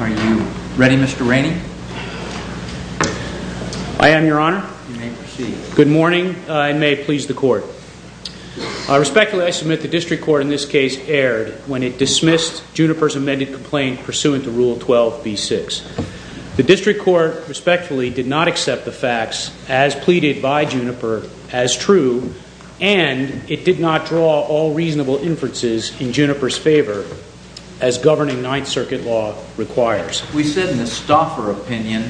Are you ready, Mr. Rainey? I am, Your Honor. You may proceed. Good morning. It may please the Court. Respectfully, I submit the District Court in this case erred when it dismissed Juniper's amended complaint pursuant to Rule 12b6. The District Court respectfully did not accept the facts as pleaded by Juniper as true, and it did not draw all reasonable inferences in Juniper's favor as governing Ninth Circuit law requires. We said in the Stoffer opinion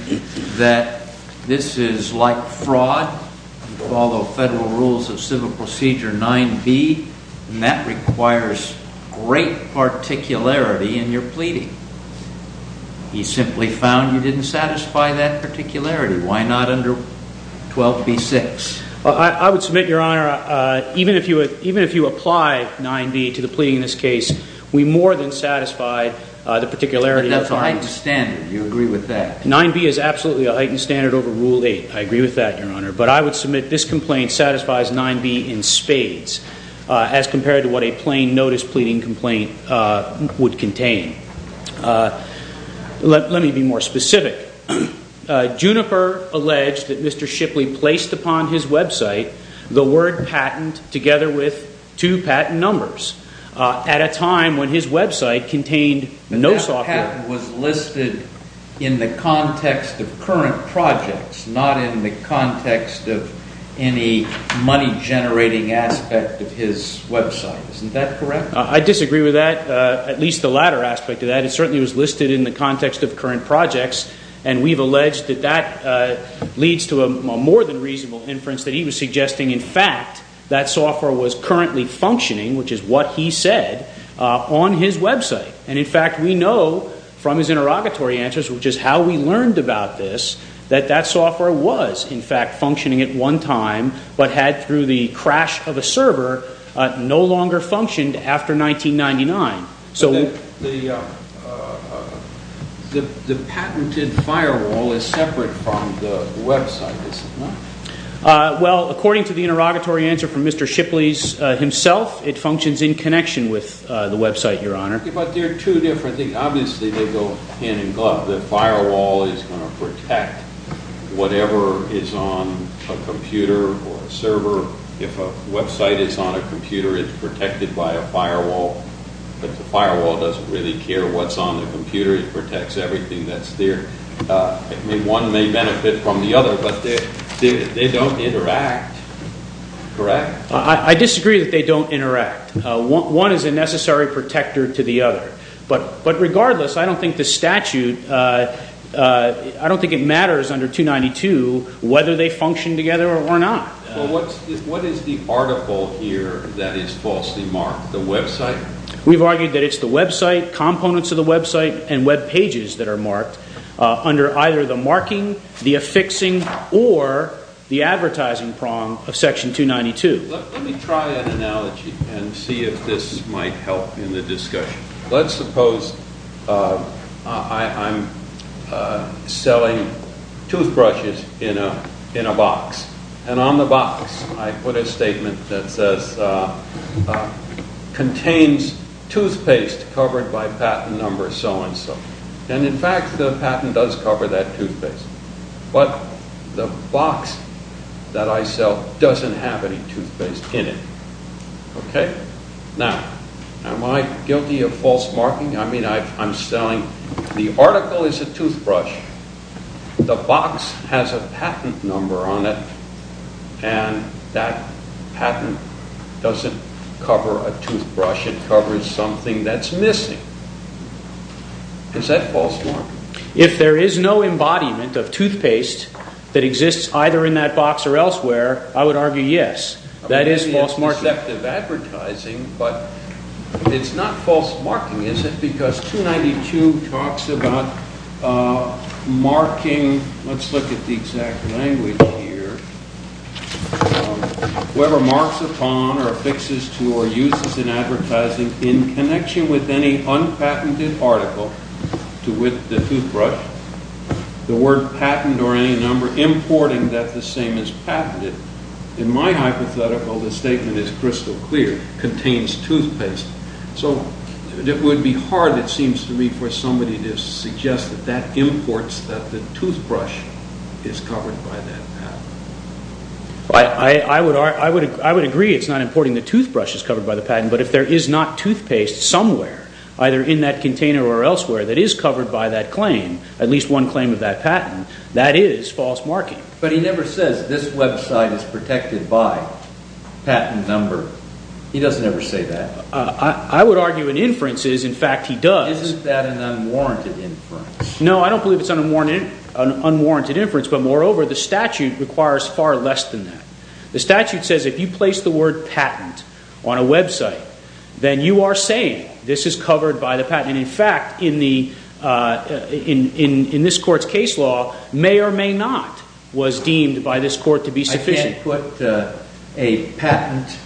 that this is like fraud, you follow Federal Rules of Civil Procedure 9b, and that requires great particularity in your pleading. He simply found you didn't satisfy that particularity. Why not under 12b6? I would submit, Your Honor, even if you apply 9b to the pleading in this case, we more than satisfied the particularity of 9b. But that's a heightened standard. Do you agree with that? 9b is absolutely a heightened standard over Rule 8. I agree with that, Your Honor. But I would submit this complaint satisfies 9b in spades as compared to what a plain notice pleading complaint would contain. Let me be more specific. Juniper alleged that Mr. Shipley placed upon his website the word patent together with two patent numbers at a time when his website contained no software. But that patent was listed in the context of current projects, not in the context of any money generating aspect of his website. Isn't that correct? I disagree with that, at least the latter aspect of that. It certainly was listed in the context of current projects. And we've alleged that that leads to a more than reasonable inference that he was suggesting, in fact, that software was currently functioning, which is what he said, on his website. And in fact, we know from his interrogatory answers, which is how we learned about this, that that software was, in fact, functioning at one time, but had, through the crash of a server, no longer functioned after 1999. So the patented firewall is separate from the website, is it not? Well, according to the interrogatory answer from Mr. Shipley himself, it functions in connection with the website, Your Honor. But they're two different things. Obviously, they go hand in glove. The firewall is going to protect whatever is on a computer or a server. If a website is on a computer, it's protected by a firewall. But the firewall doesn't really care what's on the computer. It protects everything that's there. One may benefit from the other, but they don't interact, correct? I disagree that they don't interact. One is a necessary protector to the other. But regardless, I don't think the statute, I don't think it matters under 292 whether they function together or not. So what is the article here that is falsely marked, the website? We've argued that it's the website, components of the website, and web pages that are marked under either the marking, the affixing, or the advertising prong of Section 292. Let me try an analogy and see if this might help in the discussion. Let's suppose I'm selling toothbrushes in a box. And on the box, I put a statement that says, contains toothpaste covered by patent number so and so. And in fact, the patent does cover that toothpaste. But the box that I sell doesn't have any toothpaste in it. Okay? Now, am I guilty of false marking? I mean, I'm selling, the article is a toothbrush. The box has a patent number on it, and that patent doesn't cover a toothbrush, it covers something that's missing. Is that false marking? If there is no embodiment of toothpaste that exists either in that box or elsewhere, I would argue yes. That is false marking. Maybe it's deceptive advertising, but it's not false marking, is it? Because 292 talks about marking, let's look at the exact language here, whoever marks upon or affixes to or uses in advertising in connection with any unpatented article to with the toothbrush, the word patent or any number, importing that the same as patented. In my hypothetical, the statement is crystal clear, contains toothpaste. So it would be hard, it seems to me, for somebody to suggest that that imports that the toothbrush is covered by that patent. I would agree it's not importing the toothbrush is covered by the patent, but if there is not toothpaste somewhere, either in that container or elsewhere, that is covered by that claim, at least one claim of that patent, that is false marking. But he never says this website is protected by patent number. He doesn't ever say that. I would argue an inference is, in fact, he does. Isn't that an unwarranted inference? No, I don't believe it's an unwarranted inference, but moreover, the statute requires far less than that. The statute says if you place the word patent on a website, then you are saying this is covered by the patent. And in fact, in this court's case law, may or may not was deemed by this court to be sufficient. So I can't put a patent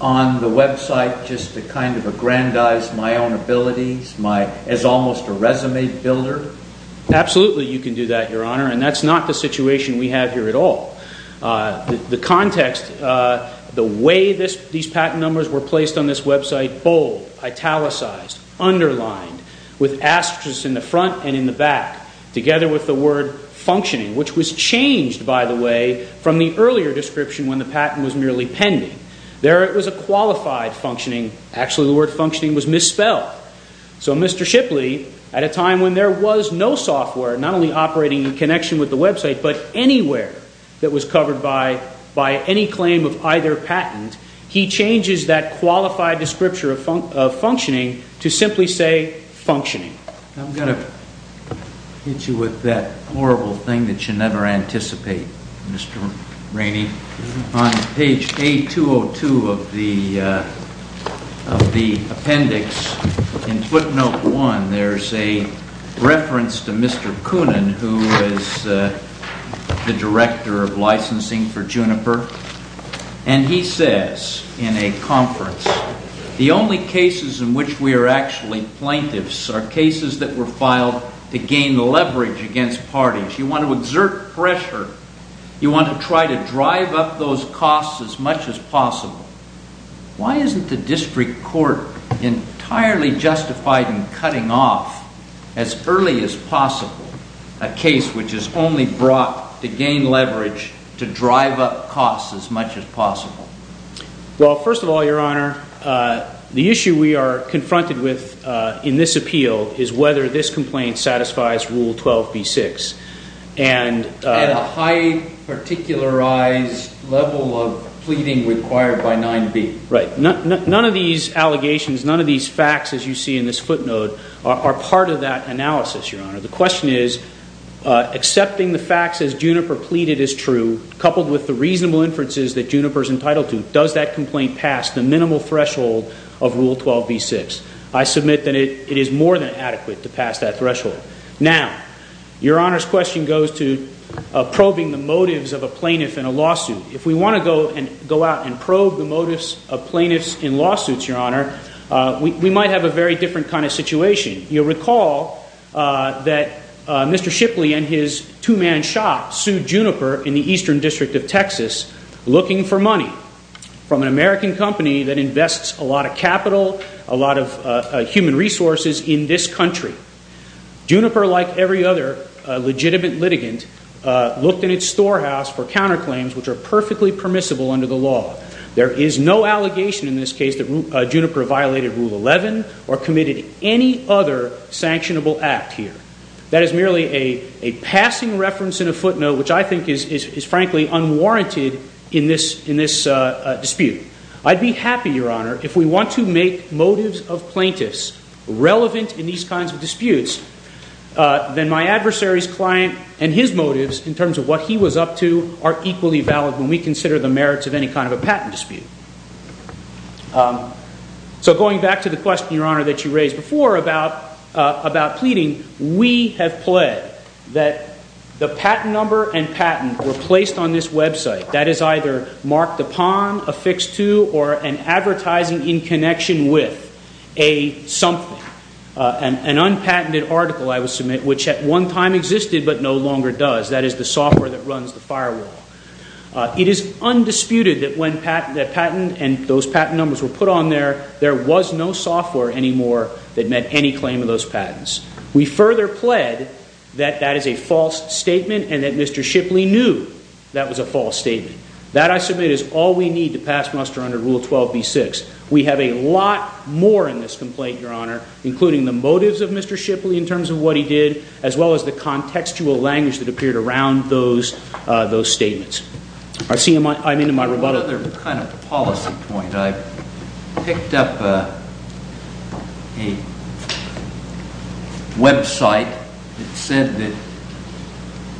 on the website just to kind of aggrandize my own abilities, as almost a resume builder? Absolutely, you can do that, Your Honor, and that's not the situation we have here at all. The context, the way these patent numbers were placed on this website, bold, italicized, underlined, with asterisks in the front and in the back, together with the word functioning, which was changed, by the way, from the earlier description when the patent was merely pending. There it was a qualified functioning. Actually, the word functioning was misspelled. So Mr. Shipley, at a time when there was no software not only operating in connection with the website, but anywhere that was covered by any claim of either patent, he changes that qualified description of functioning to simply say functioning. I'm going to hit you with that horrible thing that you never anticipate, Mr. Rainey. On page A202 of the appendix, in footnote one, there's a reference to Mr. Koonin, who is the Director of Licensing for Juniper, and he says in a conference, the only cases in which we are actually plaintiffs are cases that were filed to gain leverage against parties. You want to exert pressure. You want to try to drive up those costs as much as possible. Why isn't the district court entirely justified in cutting off, as early as possible, a case which is only brought to gain leverage, to drive up costs as much as possible? Well, first of all, Your Honor, the issue we are confronted with in this appeal is whether this complaint satisfies Rule 12b-6 and a high particularized level of pleading required by 9b. Right. None of these allegations, none of these facts, as you see in this footnote, are part of that analysis, Your Honor. The question is, accepting the facts as Juniper pleaded is true, coupled with the reasonable inferences that Juniper is entitled to, does that complaint pass the minimal threshold of Rule 12b-6? I submit that it is more than adequate to pass that threshold. Now, Your Honor's question goes to probing the motives of a plaintiff in a lawsuit. If we want to go out and probe the motives of plaintiffs in lawsuits, Your Honor, we might have a very different kind of situation. You'll recall that Mr. Shipley and his two-man shop sued Juniper in the Eastern District of Texas looking for money from an American company that invests a lot of capital, a lot of human resources in this country. Juniper, like every other legitimate litigant, looked in its storehouse for counterclaims which are perfectly permissible under the law. There is no allegation in this case that Juniper violated Rule 11 or committed any other sanctionable act here. That is merely a passing reference and a footnote which I think is frankly unwarranted in this dispute. I'd be happy, Your Honor, if we want to make motives of plaintiffs relevant in these kinds of disputes, then my adversary's client and his motives in terms of what he was up to are equally valid when we consider the merits of any kind of a patent dispute. So going back to the question, Your Honor, that you raised before about pleading, we have pled that the patent number and patent were placed on this website that is either marked upon, affixed to, or an advertising in connection with a something, an unpatented article, I would submit, which at one time existed but no longer does. That is the software that runs the firewall. It is undisputed that when that patent and those patent numbers were put on there, there was no software anymore that met any claim of those patents. We further pled that that is a false statement and that Mr. Shipley knew that was a false statement. That, I submit, is all we need to pass muster under Rule 12b6. We have a lot more in this complaint, Your Honor, including the motives of Mr. Shipley in terms of what he did as well as the contextual language that appeared around those statements. I'm into my rebuttal. Another kind of policy point. I picked up a website that said that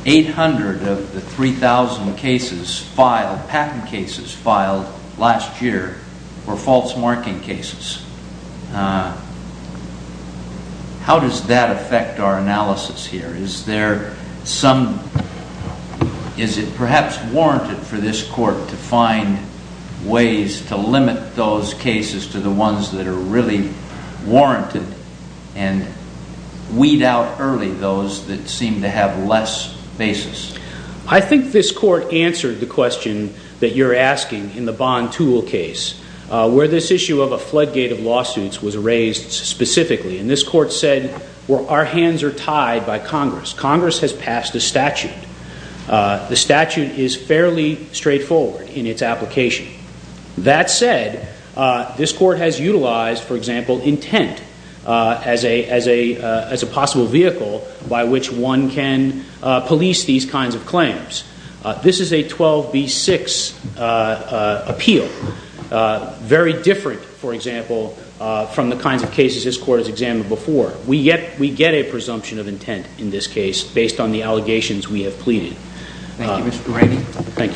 800 of the 3,000 cases, patent cases, filed last year were false marking cases. How does that affect our analysis here? Is there some, is it perhaps warranted for this court to find ways to limit those cases to the ones that are really warranted and weed out early those that seem to have less basis? I think this court answered the question that you're asking in the Bond Tool case. Where this issue of a floodgate of lawsuits was raised specifically. And this court said, well, our hands are tied by Congress. Congress has passed a statute. The statute is fairly straightforward in its application. That said, this court has utilized, for example, intent as a possible vehicle by which one can police these kinds of claims. This is a 12B6 appeal. Very different, for example, from the kinds of cases this court has examined before. We get a presumption of intent in this case based on the allegations we have pleaded. Thank you, Mr. Brady.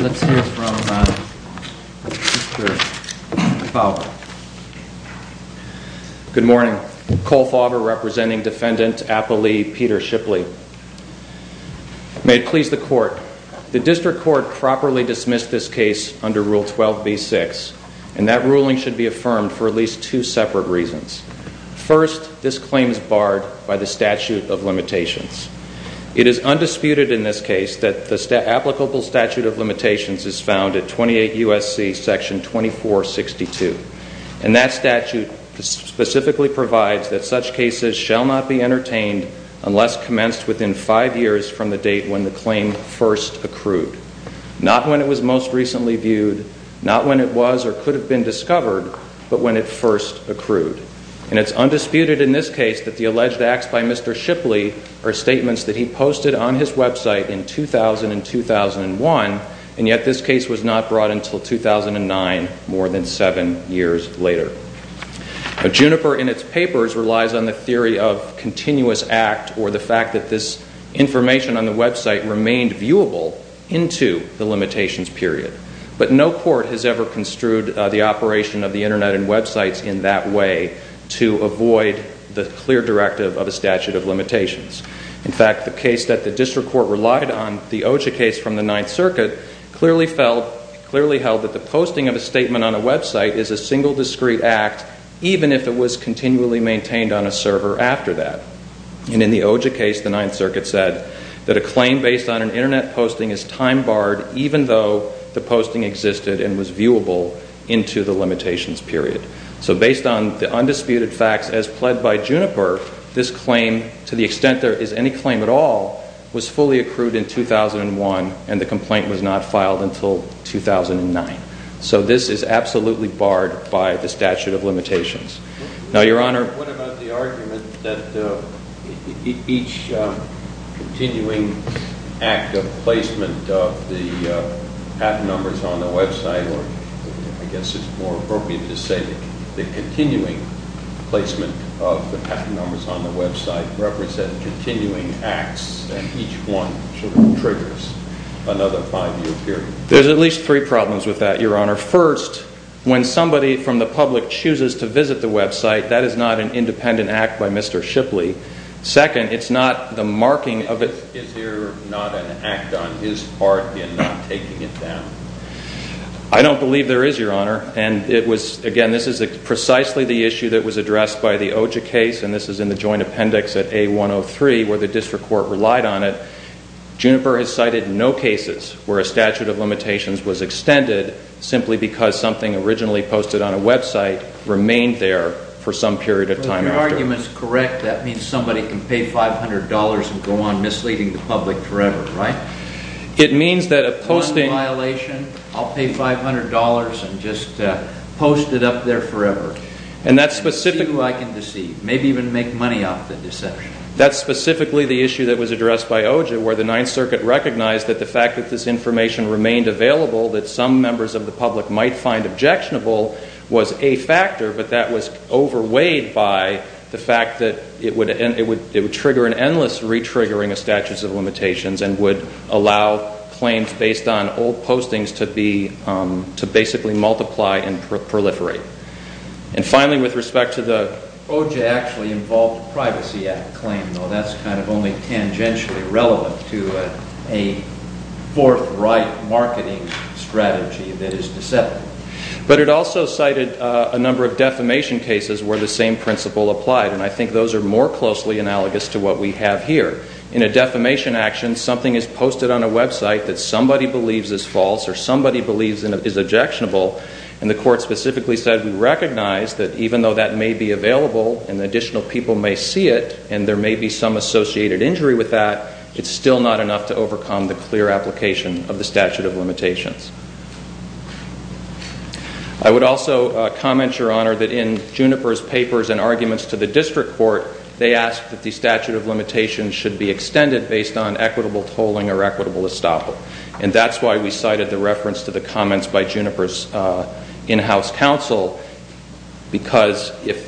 Let's hear from Mr. Kolfaber. Good morning. Kolfaber, representing Defendant Appley Peter Shipley. May it please the court. The district court properly dismissed this case under Rule 12B6. And that ruling should be affirmed for at least two separate reasons. First, this claim is barred by the statute of limitations. It is undisputed in this case that the applicable statute of limitations is found at 28 U.S.C. Section 2462. And that statute specifically provides that such cases shall not be entertained unless commenced within five years from the date when the claim first accrued. Not when it was most recently viewed, not when it was or could have been discovered, but when it first accrued. And it's undisputed in this case that the alleged acts by Mr. Shipley are statements that he posted on his website in 2000 and 2001. And yet this case was not brought until 2009, more than seven years later. Now, Juniper in its papers relies on the theory of continuous act or the fact that this information on the website remained viewable into the limitations period. But no court has ever construed the operation of the Internet and websites in that way to avoid the clear directive of a statute of limitations. In fact, the case that the district court relied on, the OJCA case from the Ninth Circuit, clearly held that the posting of a statement on a website is a single discrete act, even if it was continually maintained on a server after that. And in the OJCA case, the Ninth Circuit said that a claim based on an Internet posting is time barred, even though the posting existed and was viewable into the limitations period. So based on the undisputed facts as pled by Juniper, this claim, to the extent there is any claim at all, was fully accrued in 2001 and the complaint was not filed until 2009. So this is absolutely barred by the statute of limitations. Now, Your Honor, what about the argument that each continuing act of placement of the patent numbers on the website, or I guess it's more appropriate to say the continuing placement of the patent numbers on the website represent continuing acts and each one triggers another five year period? There's at least three problems with that, Your Honor. First, when somebody from the public chooses to visit the website, that is not an independent act by Mr. Shipley. Second, it's not the marking of it. Is there not an act on his part in taking it down? I don't believe there is, Your Honor. And it was, again, this is precisely the issue that was addressed by the OJA case, and this is in the joint appendix at A103, where the district court relied on it. Juniper has cited no cases where a statute of limitations was extended simply because something originally posted on a website remained there for some period of time. If your argument is correct, that means somebody can pay $500 and go on misleading the public forever, right? It means that a posting... One violation, I'll pay $500 and just post it up there forever. And that's specific... See who I can deceive, maybe even make money off the deception. That's specifically the issue that was addressed by OJA, where the Ninth Circuit recognized that the fact that this information remained available that some members of the public might find objectionable was a factor, but that was overweighed by the fact that it would trigger an endless re-triggering of statutes of limitations and would allow claims based on old postings to basically multiply and proliferate. And finally, with respect to the... OJA actually involved a Privacy Act claim, though that's kind of only tangentially relevant to a forthright marketing strategy that is deceptive. But it also cited a number of defamation cases where the same principle applied. And I think those are more closely analogous to what we have here. In a defamation action, something is posted on a website that somebody believes is false or somebody believes is objectionable, and the court specifically said, we recognize that even though that may be available and additional people may see it and there may be some associated injury with that, it's still not enough to overcome the clear application of the statute of limitations. I would also comment, Your Honor, that in Juniper's papers and arguments to the district court, they asked that the statute of limitations should be extended based on equitable tolling or equitable estoppel. And that's why we cited the reference to the comments by Juniper's in-house counsel, because if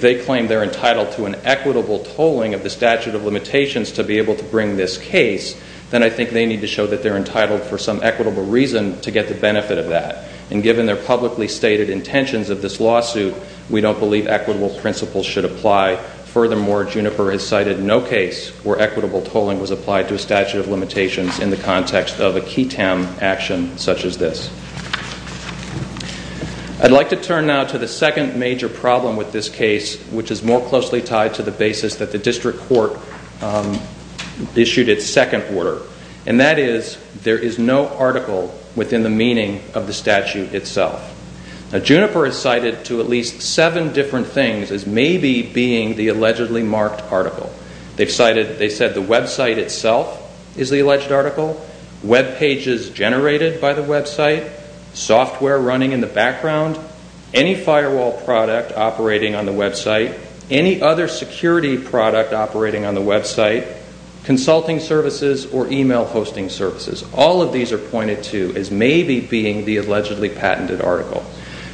they claim they're entitled to an equitable tolling of the statute of limitations to be able to bring this case, then I think they need to show that they're entitled for some equitable reason to get the benefit of that. And given their publicly stated intentions of this lawsuit, we don't believe equitable principles should apply. Furthermore, Juniper has cited no case where equitable tolling was applied to a statute of limitations in the context of a KETAM action such as this. I'd like to turn now to the second major problem with this case, which is more closely tied to the basis that the district court issued its second order. And that is, there is no article within the meaning of the statute itself. Now, Juniper has cited to at least seven different things as maybe being the allegedly marked article. They've cited, they said the website itself is the alleged article, web pages generated by the website, software running in the background, any firewall product operating on the website, any other security product operating on the website, consulting services or email hosting services. All of these are pointed to as maybe being the allegedly patented article.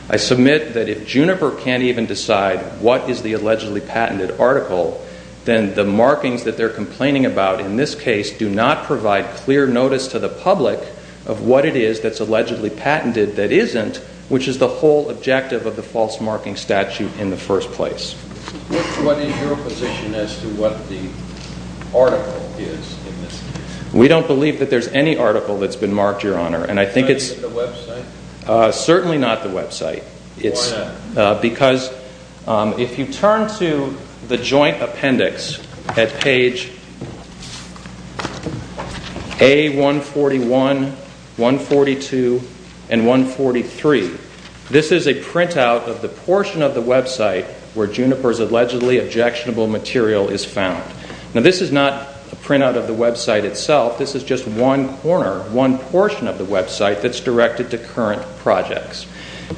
I submit that if Juniper can't even decide what is the allegedly patented article, then the markings that they're complaining about in this case do not provide clear notice to the public of what it is that's allegedly patented that isn't, which is the whole objective of the false marking statute in the first place. What is your position as to what the article is in this case? We don't believe that there's any article that's been marked, Your Honor. And I think it's... The website? Certainly not the website. Why not? Because if you turn to the joint appendix at page A141, 142, and 143, this is a printout of the portion of the website where Juniper's allegedly objectionable material is found. Now, this is not a printout of the website itself. This is just one corner, one portion of the website that's directed to current projects.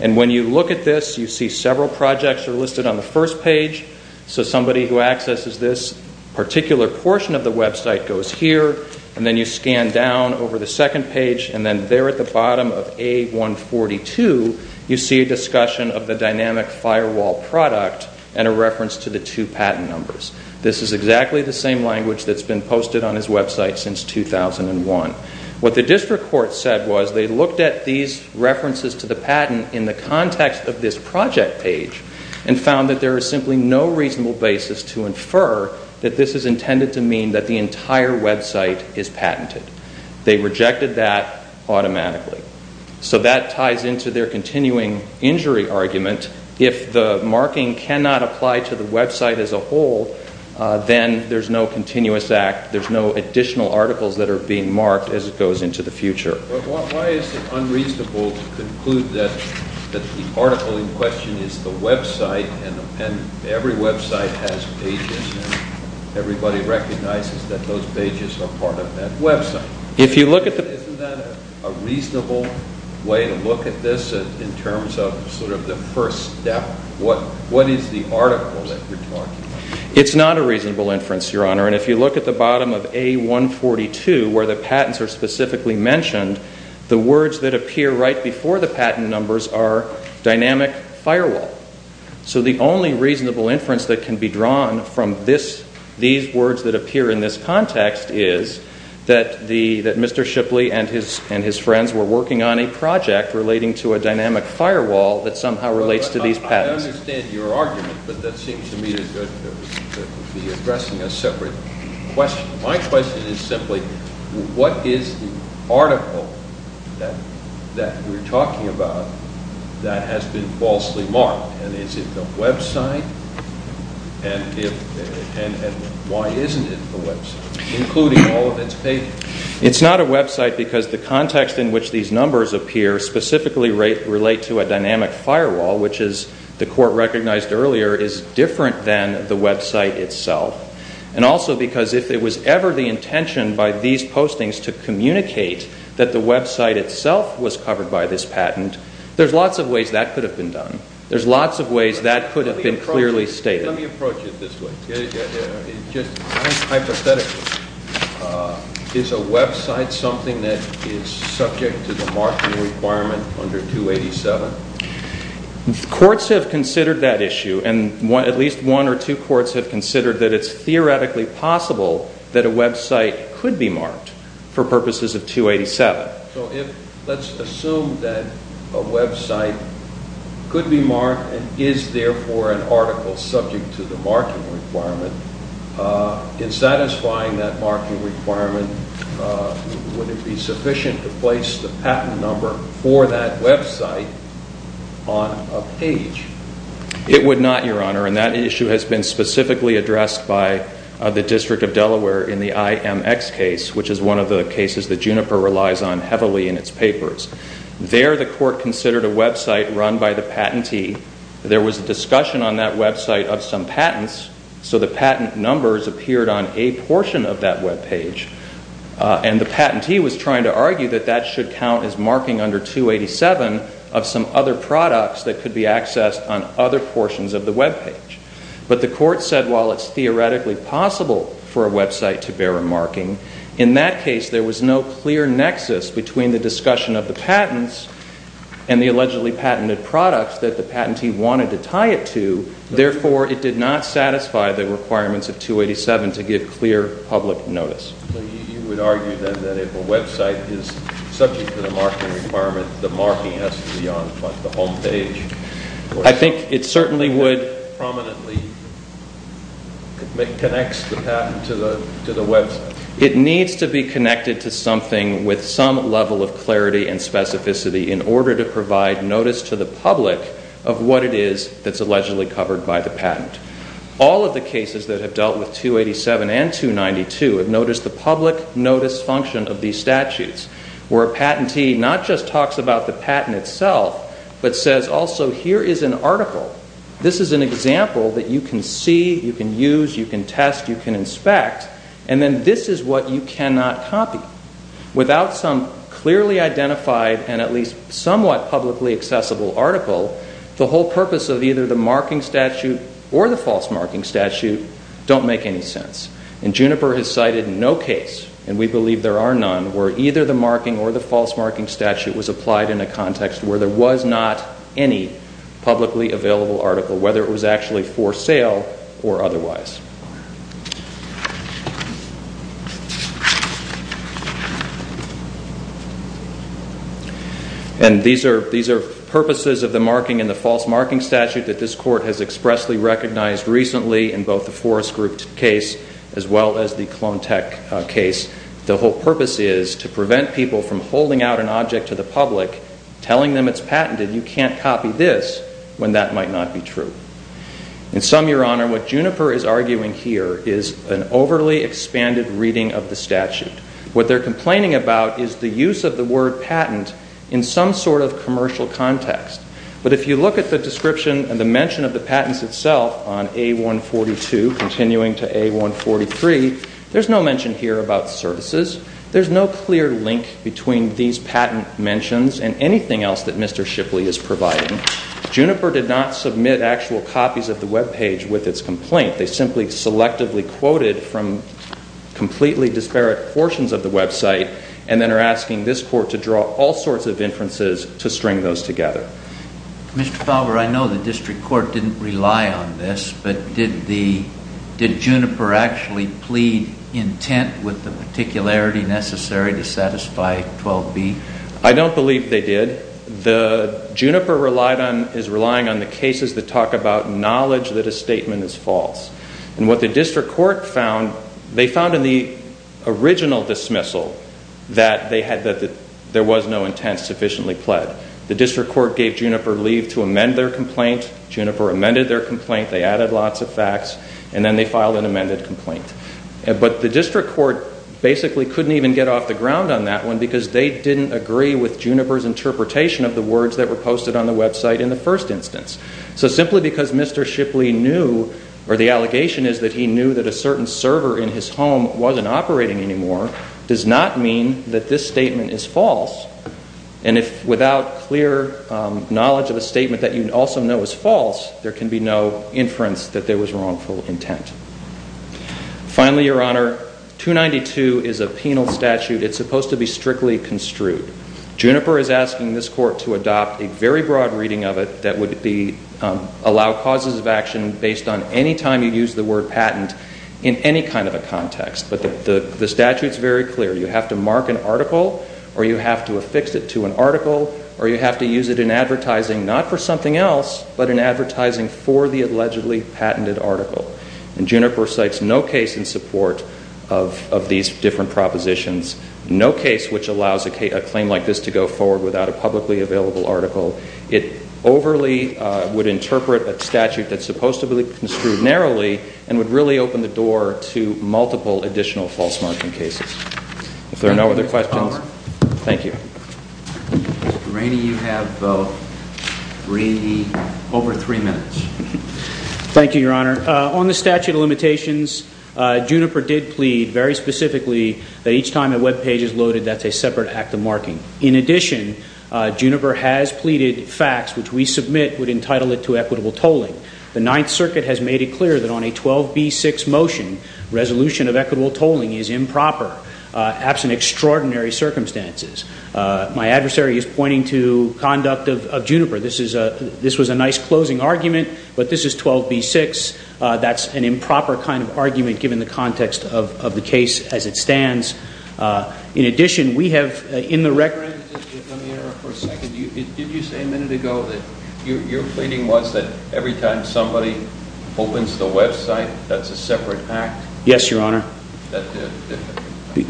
And when you look at this, you see several projects are listed on the first page. So somebody who accesses this particular portion of the website goes here, and then you scan down over the second page, and then there at the bottom of A142, you see a discussion of the dynamic firewall product and a reference to the two patent numbers. This is exactly the same language that's been posted on his website since 2001. What the district court said was they looked at these references to the patent in the context of this project page and found that there is simply no reasonable basis to infer that this is intended to mean that the entire website is patented. They rejected that automatically. So that ties into their continuing injury argument. If the marking cannot apply to the website as a whole, then there's no continuous act. There's no additional articles that are being marked as it goes into the future. But why is it unreasonable to conclude that the article in question is the website, and every website has pages, and everybody recognizes that those pages are part of that website? If you look at the... Isn't that a reasonable way to look at this in terms of sort of the first step? What is the article that you're talking about? It's not a reasonable inference, Your Honor. And if you look at the bottom of A142, where the patents are specifically mentioned, the words that appear right before the patent numbers are dynamic firewall. So the only reasonable inference that can be drawn from these words that appear in this context is that Mr. Shipley and his friends were working on a project relating to a dynamic firewall that somehow relates to these patents. I understand your argument, but that seems to me to be addressing a separate question. My question is simply, what is the article that you're talking about that has been falsely marked? And is it the website? And why isn't it the website, including all of its pages? It's not a website because the context in which these numbers appear specifically relate to a dynamic firewall, which is the court recognized earlier, is different than the website itself. And also because if it was ever the intention by these postings to communicate that the website itself was covered by this patent, there's lots of ways that could have been done. There's lots of ways that could have been clearly stated. Let me approach it this way. Just hypothetically, is a website something that is subject to the marking requirement under 287? Courts have considered that issue. And at least one or two courts have considered that it's theoretically possible that a website could be marked for purposes of 287. So let's assume that a website could be marked and is therefore an article subject to the marking requirement. In satisfying that marking requirement, would it be sufficient to place the patent number for that website on a page? It would not, Your Honor. And that issue has been specifically addressed by the District of Delaware in the IMX case, which is one of the cases that Juniper relies on heavily in its papers. There, the court considered a website run by the patentee. There was a discussion on that website of some patents, so the patent numbers appeared on a portion of that webpage. And the patentee was trying to argue that that should count as marking under 287 of some other products that could be accessed on other portions of the webpage. But the court said while it's theoretically possible for a website to bear a marking, in that case, there was no clear nexus between the discussion of the patents and the allegedly patented products that the patentee wanted to tie it to. Therefore, it did not satisfy the requirements of 287 to give clear public notice. So you would argue then that if a website is subject to the marking requirement, the marking has to be on the homepage? I think it certainly would. Prominently connects the patent to the website. It needs to be connected to something with some level of clarity and specificity in order to provide notice to the public of what it is that's allegedly covered by the patent. All of the cases that have dealt with 287 and 292 have noticed the public notice function of these statutes, where a patentee not just talks about the patent itself, but says also here is an article. This is an example that you can see, you can use, you can test, you can inspect. And then this is what you cannot copy. Without some clearly identified and at least somewhat publicly accessible article, the whole purpose of either the marking statute or the false marking statute don't make any sense. And Juniper has cited no case, and we believe there are none, where either the marking or the false marking statute was applied in a context where there was not any publicly available article, whether it was actually for sale or otherwise. And these are purposes of the marking and the false marking statute that this court has expressly recognized recently in both the Forest Group case as well as the Clone Tech case. The whole purpose is to prevent people from holding out an object to the public, telling them it's patented, you can't copy this when that might not be true. In sum, Your Honor, what Juniper is arguing here is an overly expanded reading of the statute. What they're complaining about is the use of the word patent in some sort of commercial context. But if you look at the description and the mention of the patents itself on A142, continuing to A143, there's no mention here about services. There's no clear link between these patent mentions and anything else that Mr. Shipley is providing. Juniper did not submit actual copies of the webpage with its complaint. They simply selectively quoted from completely disparate portions of the website and then are asking this court to draw all sorts of inferences to string those together. Mr. Fowler, I know the district court didn't rely on this, but did Juniper actually plead intent with the particularity necessary to satisfy 12b? I don't believe they did. The Juniper is relying on the cases that talk about knowledge that a statement is false. And what the district court found, they found in the original dismissal that there was no intent sufficiently pled. The district court gave Juniper leave to amend their complaint. Juniper amended their complaint. They added lots of facts and then they filed an amended complaint. But the district court basically couldn't even get off the ground on that one because they didn't agree with Juniper's interpretation of the words that were posted on the website in the first instance. So simply because Mr. Shipley knew, or the allegation is that he knew that a certain server in his home wasn't operating anymore, does not mean that this statement is false. And if without clear knowledge of a statement that you also know is false, there can be no inference that there was wrongful intent. Finally, Your Honor, 292 is a penal statute. It's supposed to be strictly construed. Juniper is asking this court to adopt a very broad reading of it that would allow causes of action based on any time you use the word patent in any kind of a context. But the statute's very clear. You have to mark an article, or you have to affix it to an article, or you have to use it in advertising, not for something else, but in advertising for the allegedly patented article. And Juniper cites no case in support of these different propositions, no case which allows a claim like this to go forward without a publicly available article. It overly would interpret a statute that's supposed to be construed narrowly and would really open the door to multiple additional false marking cases. If there are no other questions, thank you. Mr. Rainey, you have over three minutes. Thank you, Your Honor. On the statute of limitations, Juniper did plead very specifically that each time a web page is loaded, that's a separate act of marking. In addition, Juniper has pleaded facts which we submit would entitle it to equitable tolling. The Ninth Circuit has made it clear that on a 12b6 motion, resolution of equitable tolling is improper, absent extraordinary circumstances. My adversary is pointing to conduct of Juniper. This was a nice closing argument, but this is 12b6. That's an improper kind of argument given the context of the case as it stands. In addition, we have in the record... Mr. Rainey, let me interrupt for a second. Did you say a minute ago that your pleading was that every time somebody opens the website, that's a separate act? Yes, Your Honor.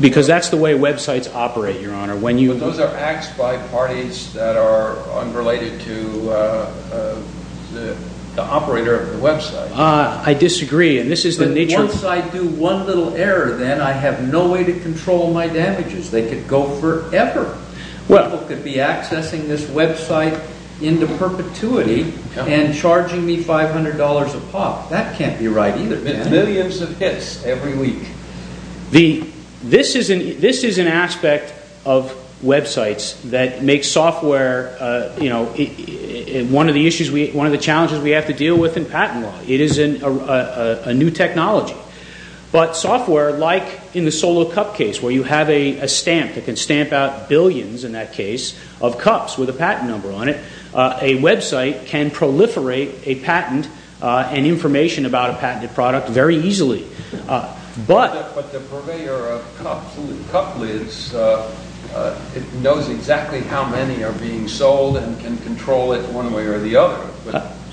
Because that's the way websites operate, Your Honor. Those are acts by parties that are unrelated to the operator of the website. I disagree. Once I do one little error, then I have no way to control my damages. They could go forever. People could be accessing this website into perpetuity and charging me $500 a pop. That can't be right either. Millions of hits every week. The... This is an aspect of websites that makes software, you know, one of the issues, one of the challenges we have to deal with in patent law. It is a new technology. But software, like in the Solo Cup case, where you have a stamp that can stamp out billions, in that case, of cups with a patent number on it, a website can proliferate a patent and information about a patented product very easily. But... But the purveyor of cups and cup lids knows exactly how many are being sold and can control it one way or the other.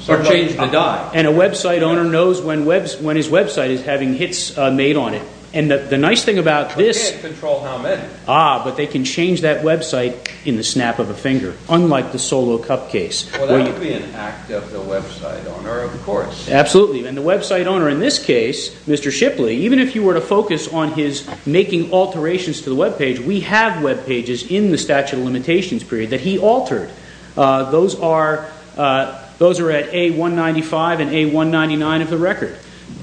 Or change the dye. And a website owner knows when his website is having hits made on it. And the nice thing about this... They can't control how many. Ah, but they can change that website in the snap of a finger, unlike the Solo Cup case. Well, that could be an act of the website owner, of course. Absolutely. And the website owner, in this case, Mr. Shipley, even if you were to focus on his making alterations to the webpage, we have webpages in the statute of limitations period that he altered. Those are... Those are at A195 and A199 of the record,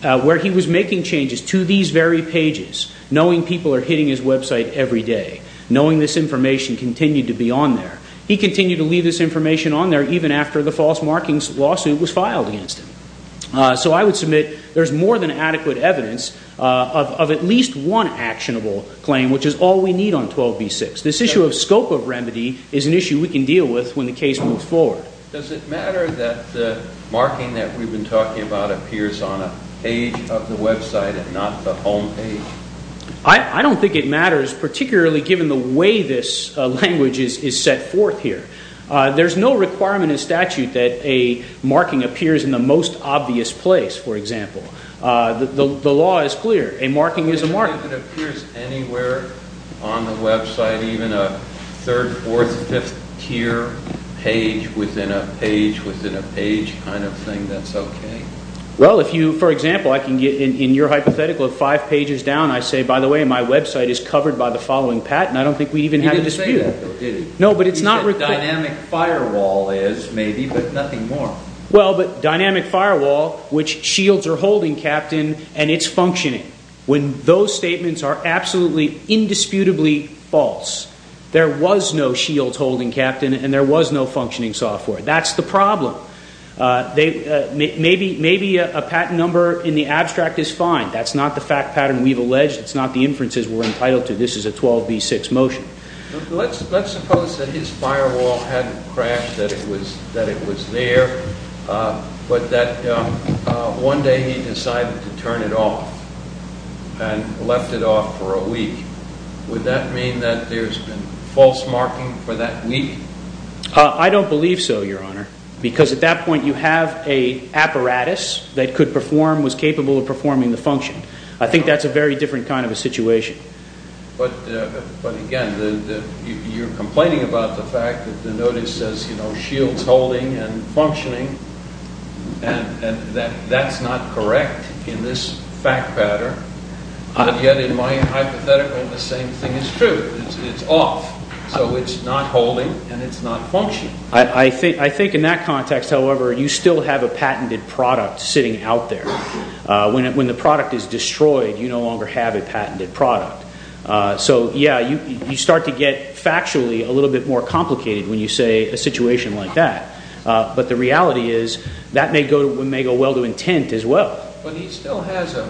where he was making changes to these very pages, knowing people are hitting his website every day, knowing this information continued to be on there. He continued to leave this information on there even after the false markings lawsuit was filed against him. So I would submit there's more than adequate evidence of at least one actionable claim, which is all we need on 12b6. This issue of scope of remedy is an issue we can deal with when the case moves forward. Does it matter that the marking that we've been talking about appears on a page of the website and not the homepage? I don't think it matters, particularly given the way this language is set forth here. There's no requirement in statute that a marking appears in the most obvious place, for example. The law is clear. A marking is a marking. If it appears anywhere on the website, even a third, fourth, fifth tier page within a page within a page kind of thing, that's okay? Well, if you... For example, I can get in your hypothetical of five pages down, I say, by the way, my website is covered by the following patent. I don't think we even have a dispute. You didn't say that, though, did you? No, but it's not... Dynamic firewall is, maybe, but nothing more. Well, but dynamic firewall, which shields are holding, Captain, and it's functioning. When those statements are absolutely, indisputably false, there was no shields holding, Captain, and there was no functioning software. That's the problem. Maybe a patent number in the abstract is fine. That's not the fact pattern we've alleged. It's not the inferences we're entitled to. This is a 12b6 motion. Let's suppose that his firewall hadn't crashed, that it was there, but that one day he decided to turn it off and left it off for a week. Would that mean that there's been false marking for that week? I don't believe so, Your Honor, because at that point you have a apparatus that could perform, was capable of performing the function. I think that's a very different kind of a situation. But, again, you're complaining about the fact that the notice says, you know, shield's holding and functioning, and that's not correct in this fact pattern. And yet, in my hypothetical, the same thing is true. It's off, so it's not holding and it's not functioning. I think in that context, however, you still have a patented product sitting out there. When the product is destroyed, you no longer have a patented product. So, yeah, you start to get, factually, a little bit more complicated when you say a situation like that. But the reality is that may go well to intent as well. But he still has a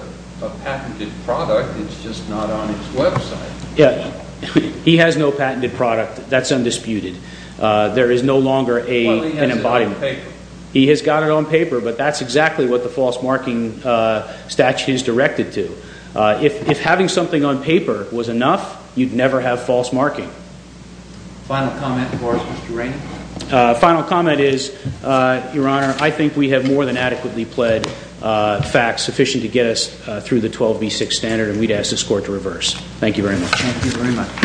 patented product. It's just not on his website. He has no patented product. That's undisputed. There is no longer an embodiment. Well, he has it on paper. He has got it on paper, but that's exactly what the false marking statute is directed to. If having something on paper was enough, you'd never have false marking. Final comment for us, Mr. Rainey? Final comment is, Your Honor, I think we have more than adequately pled facts sufficient to get us through the 12B6 standard, and we'd ask this court to reverse. Thank you very much. Thank you very much.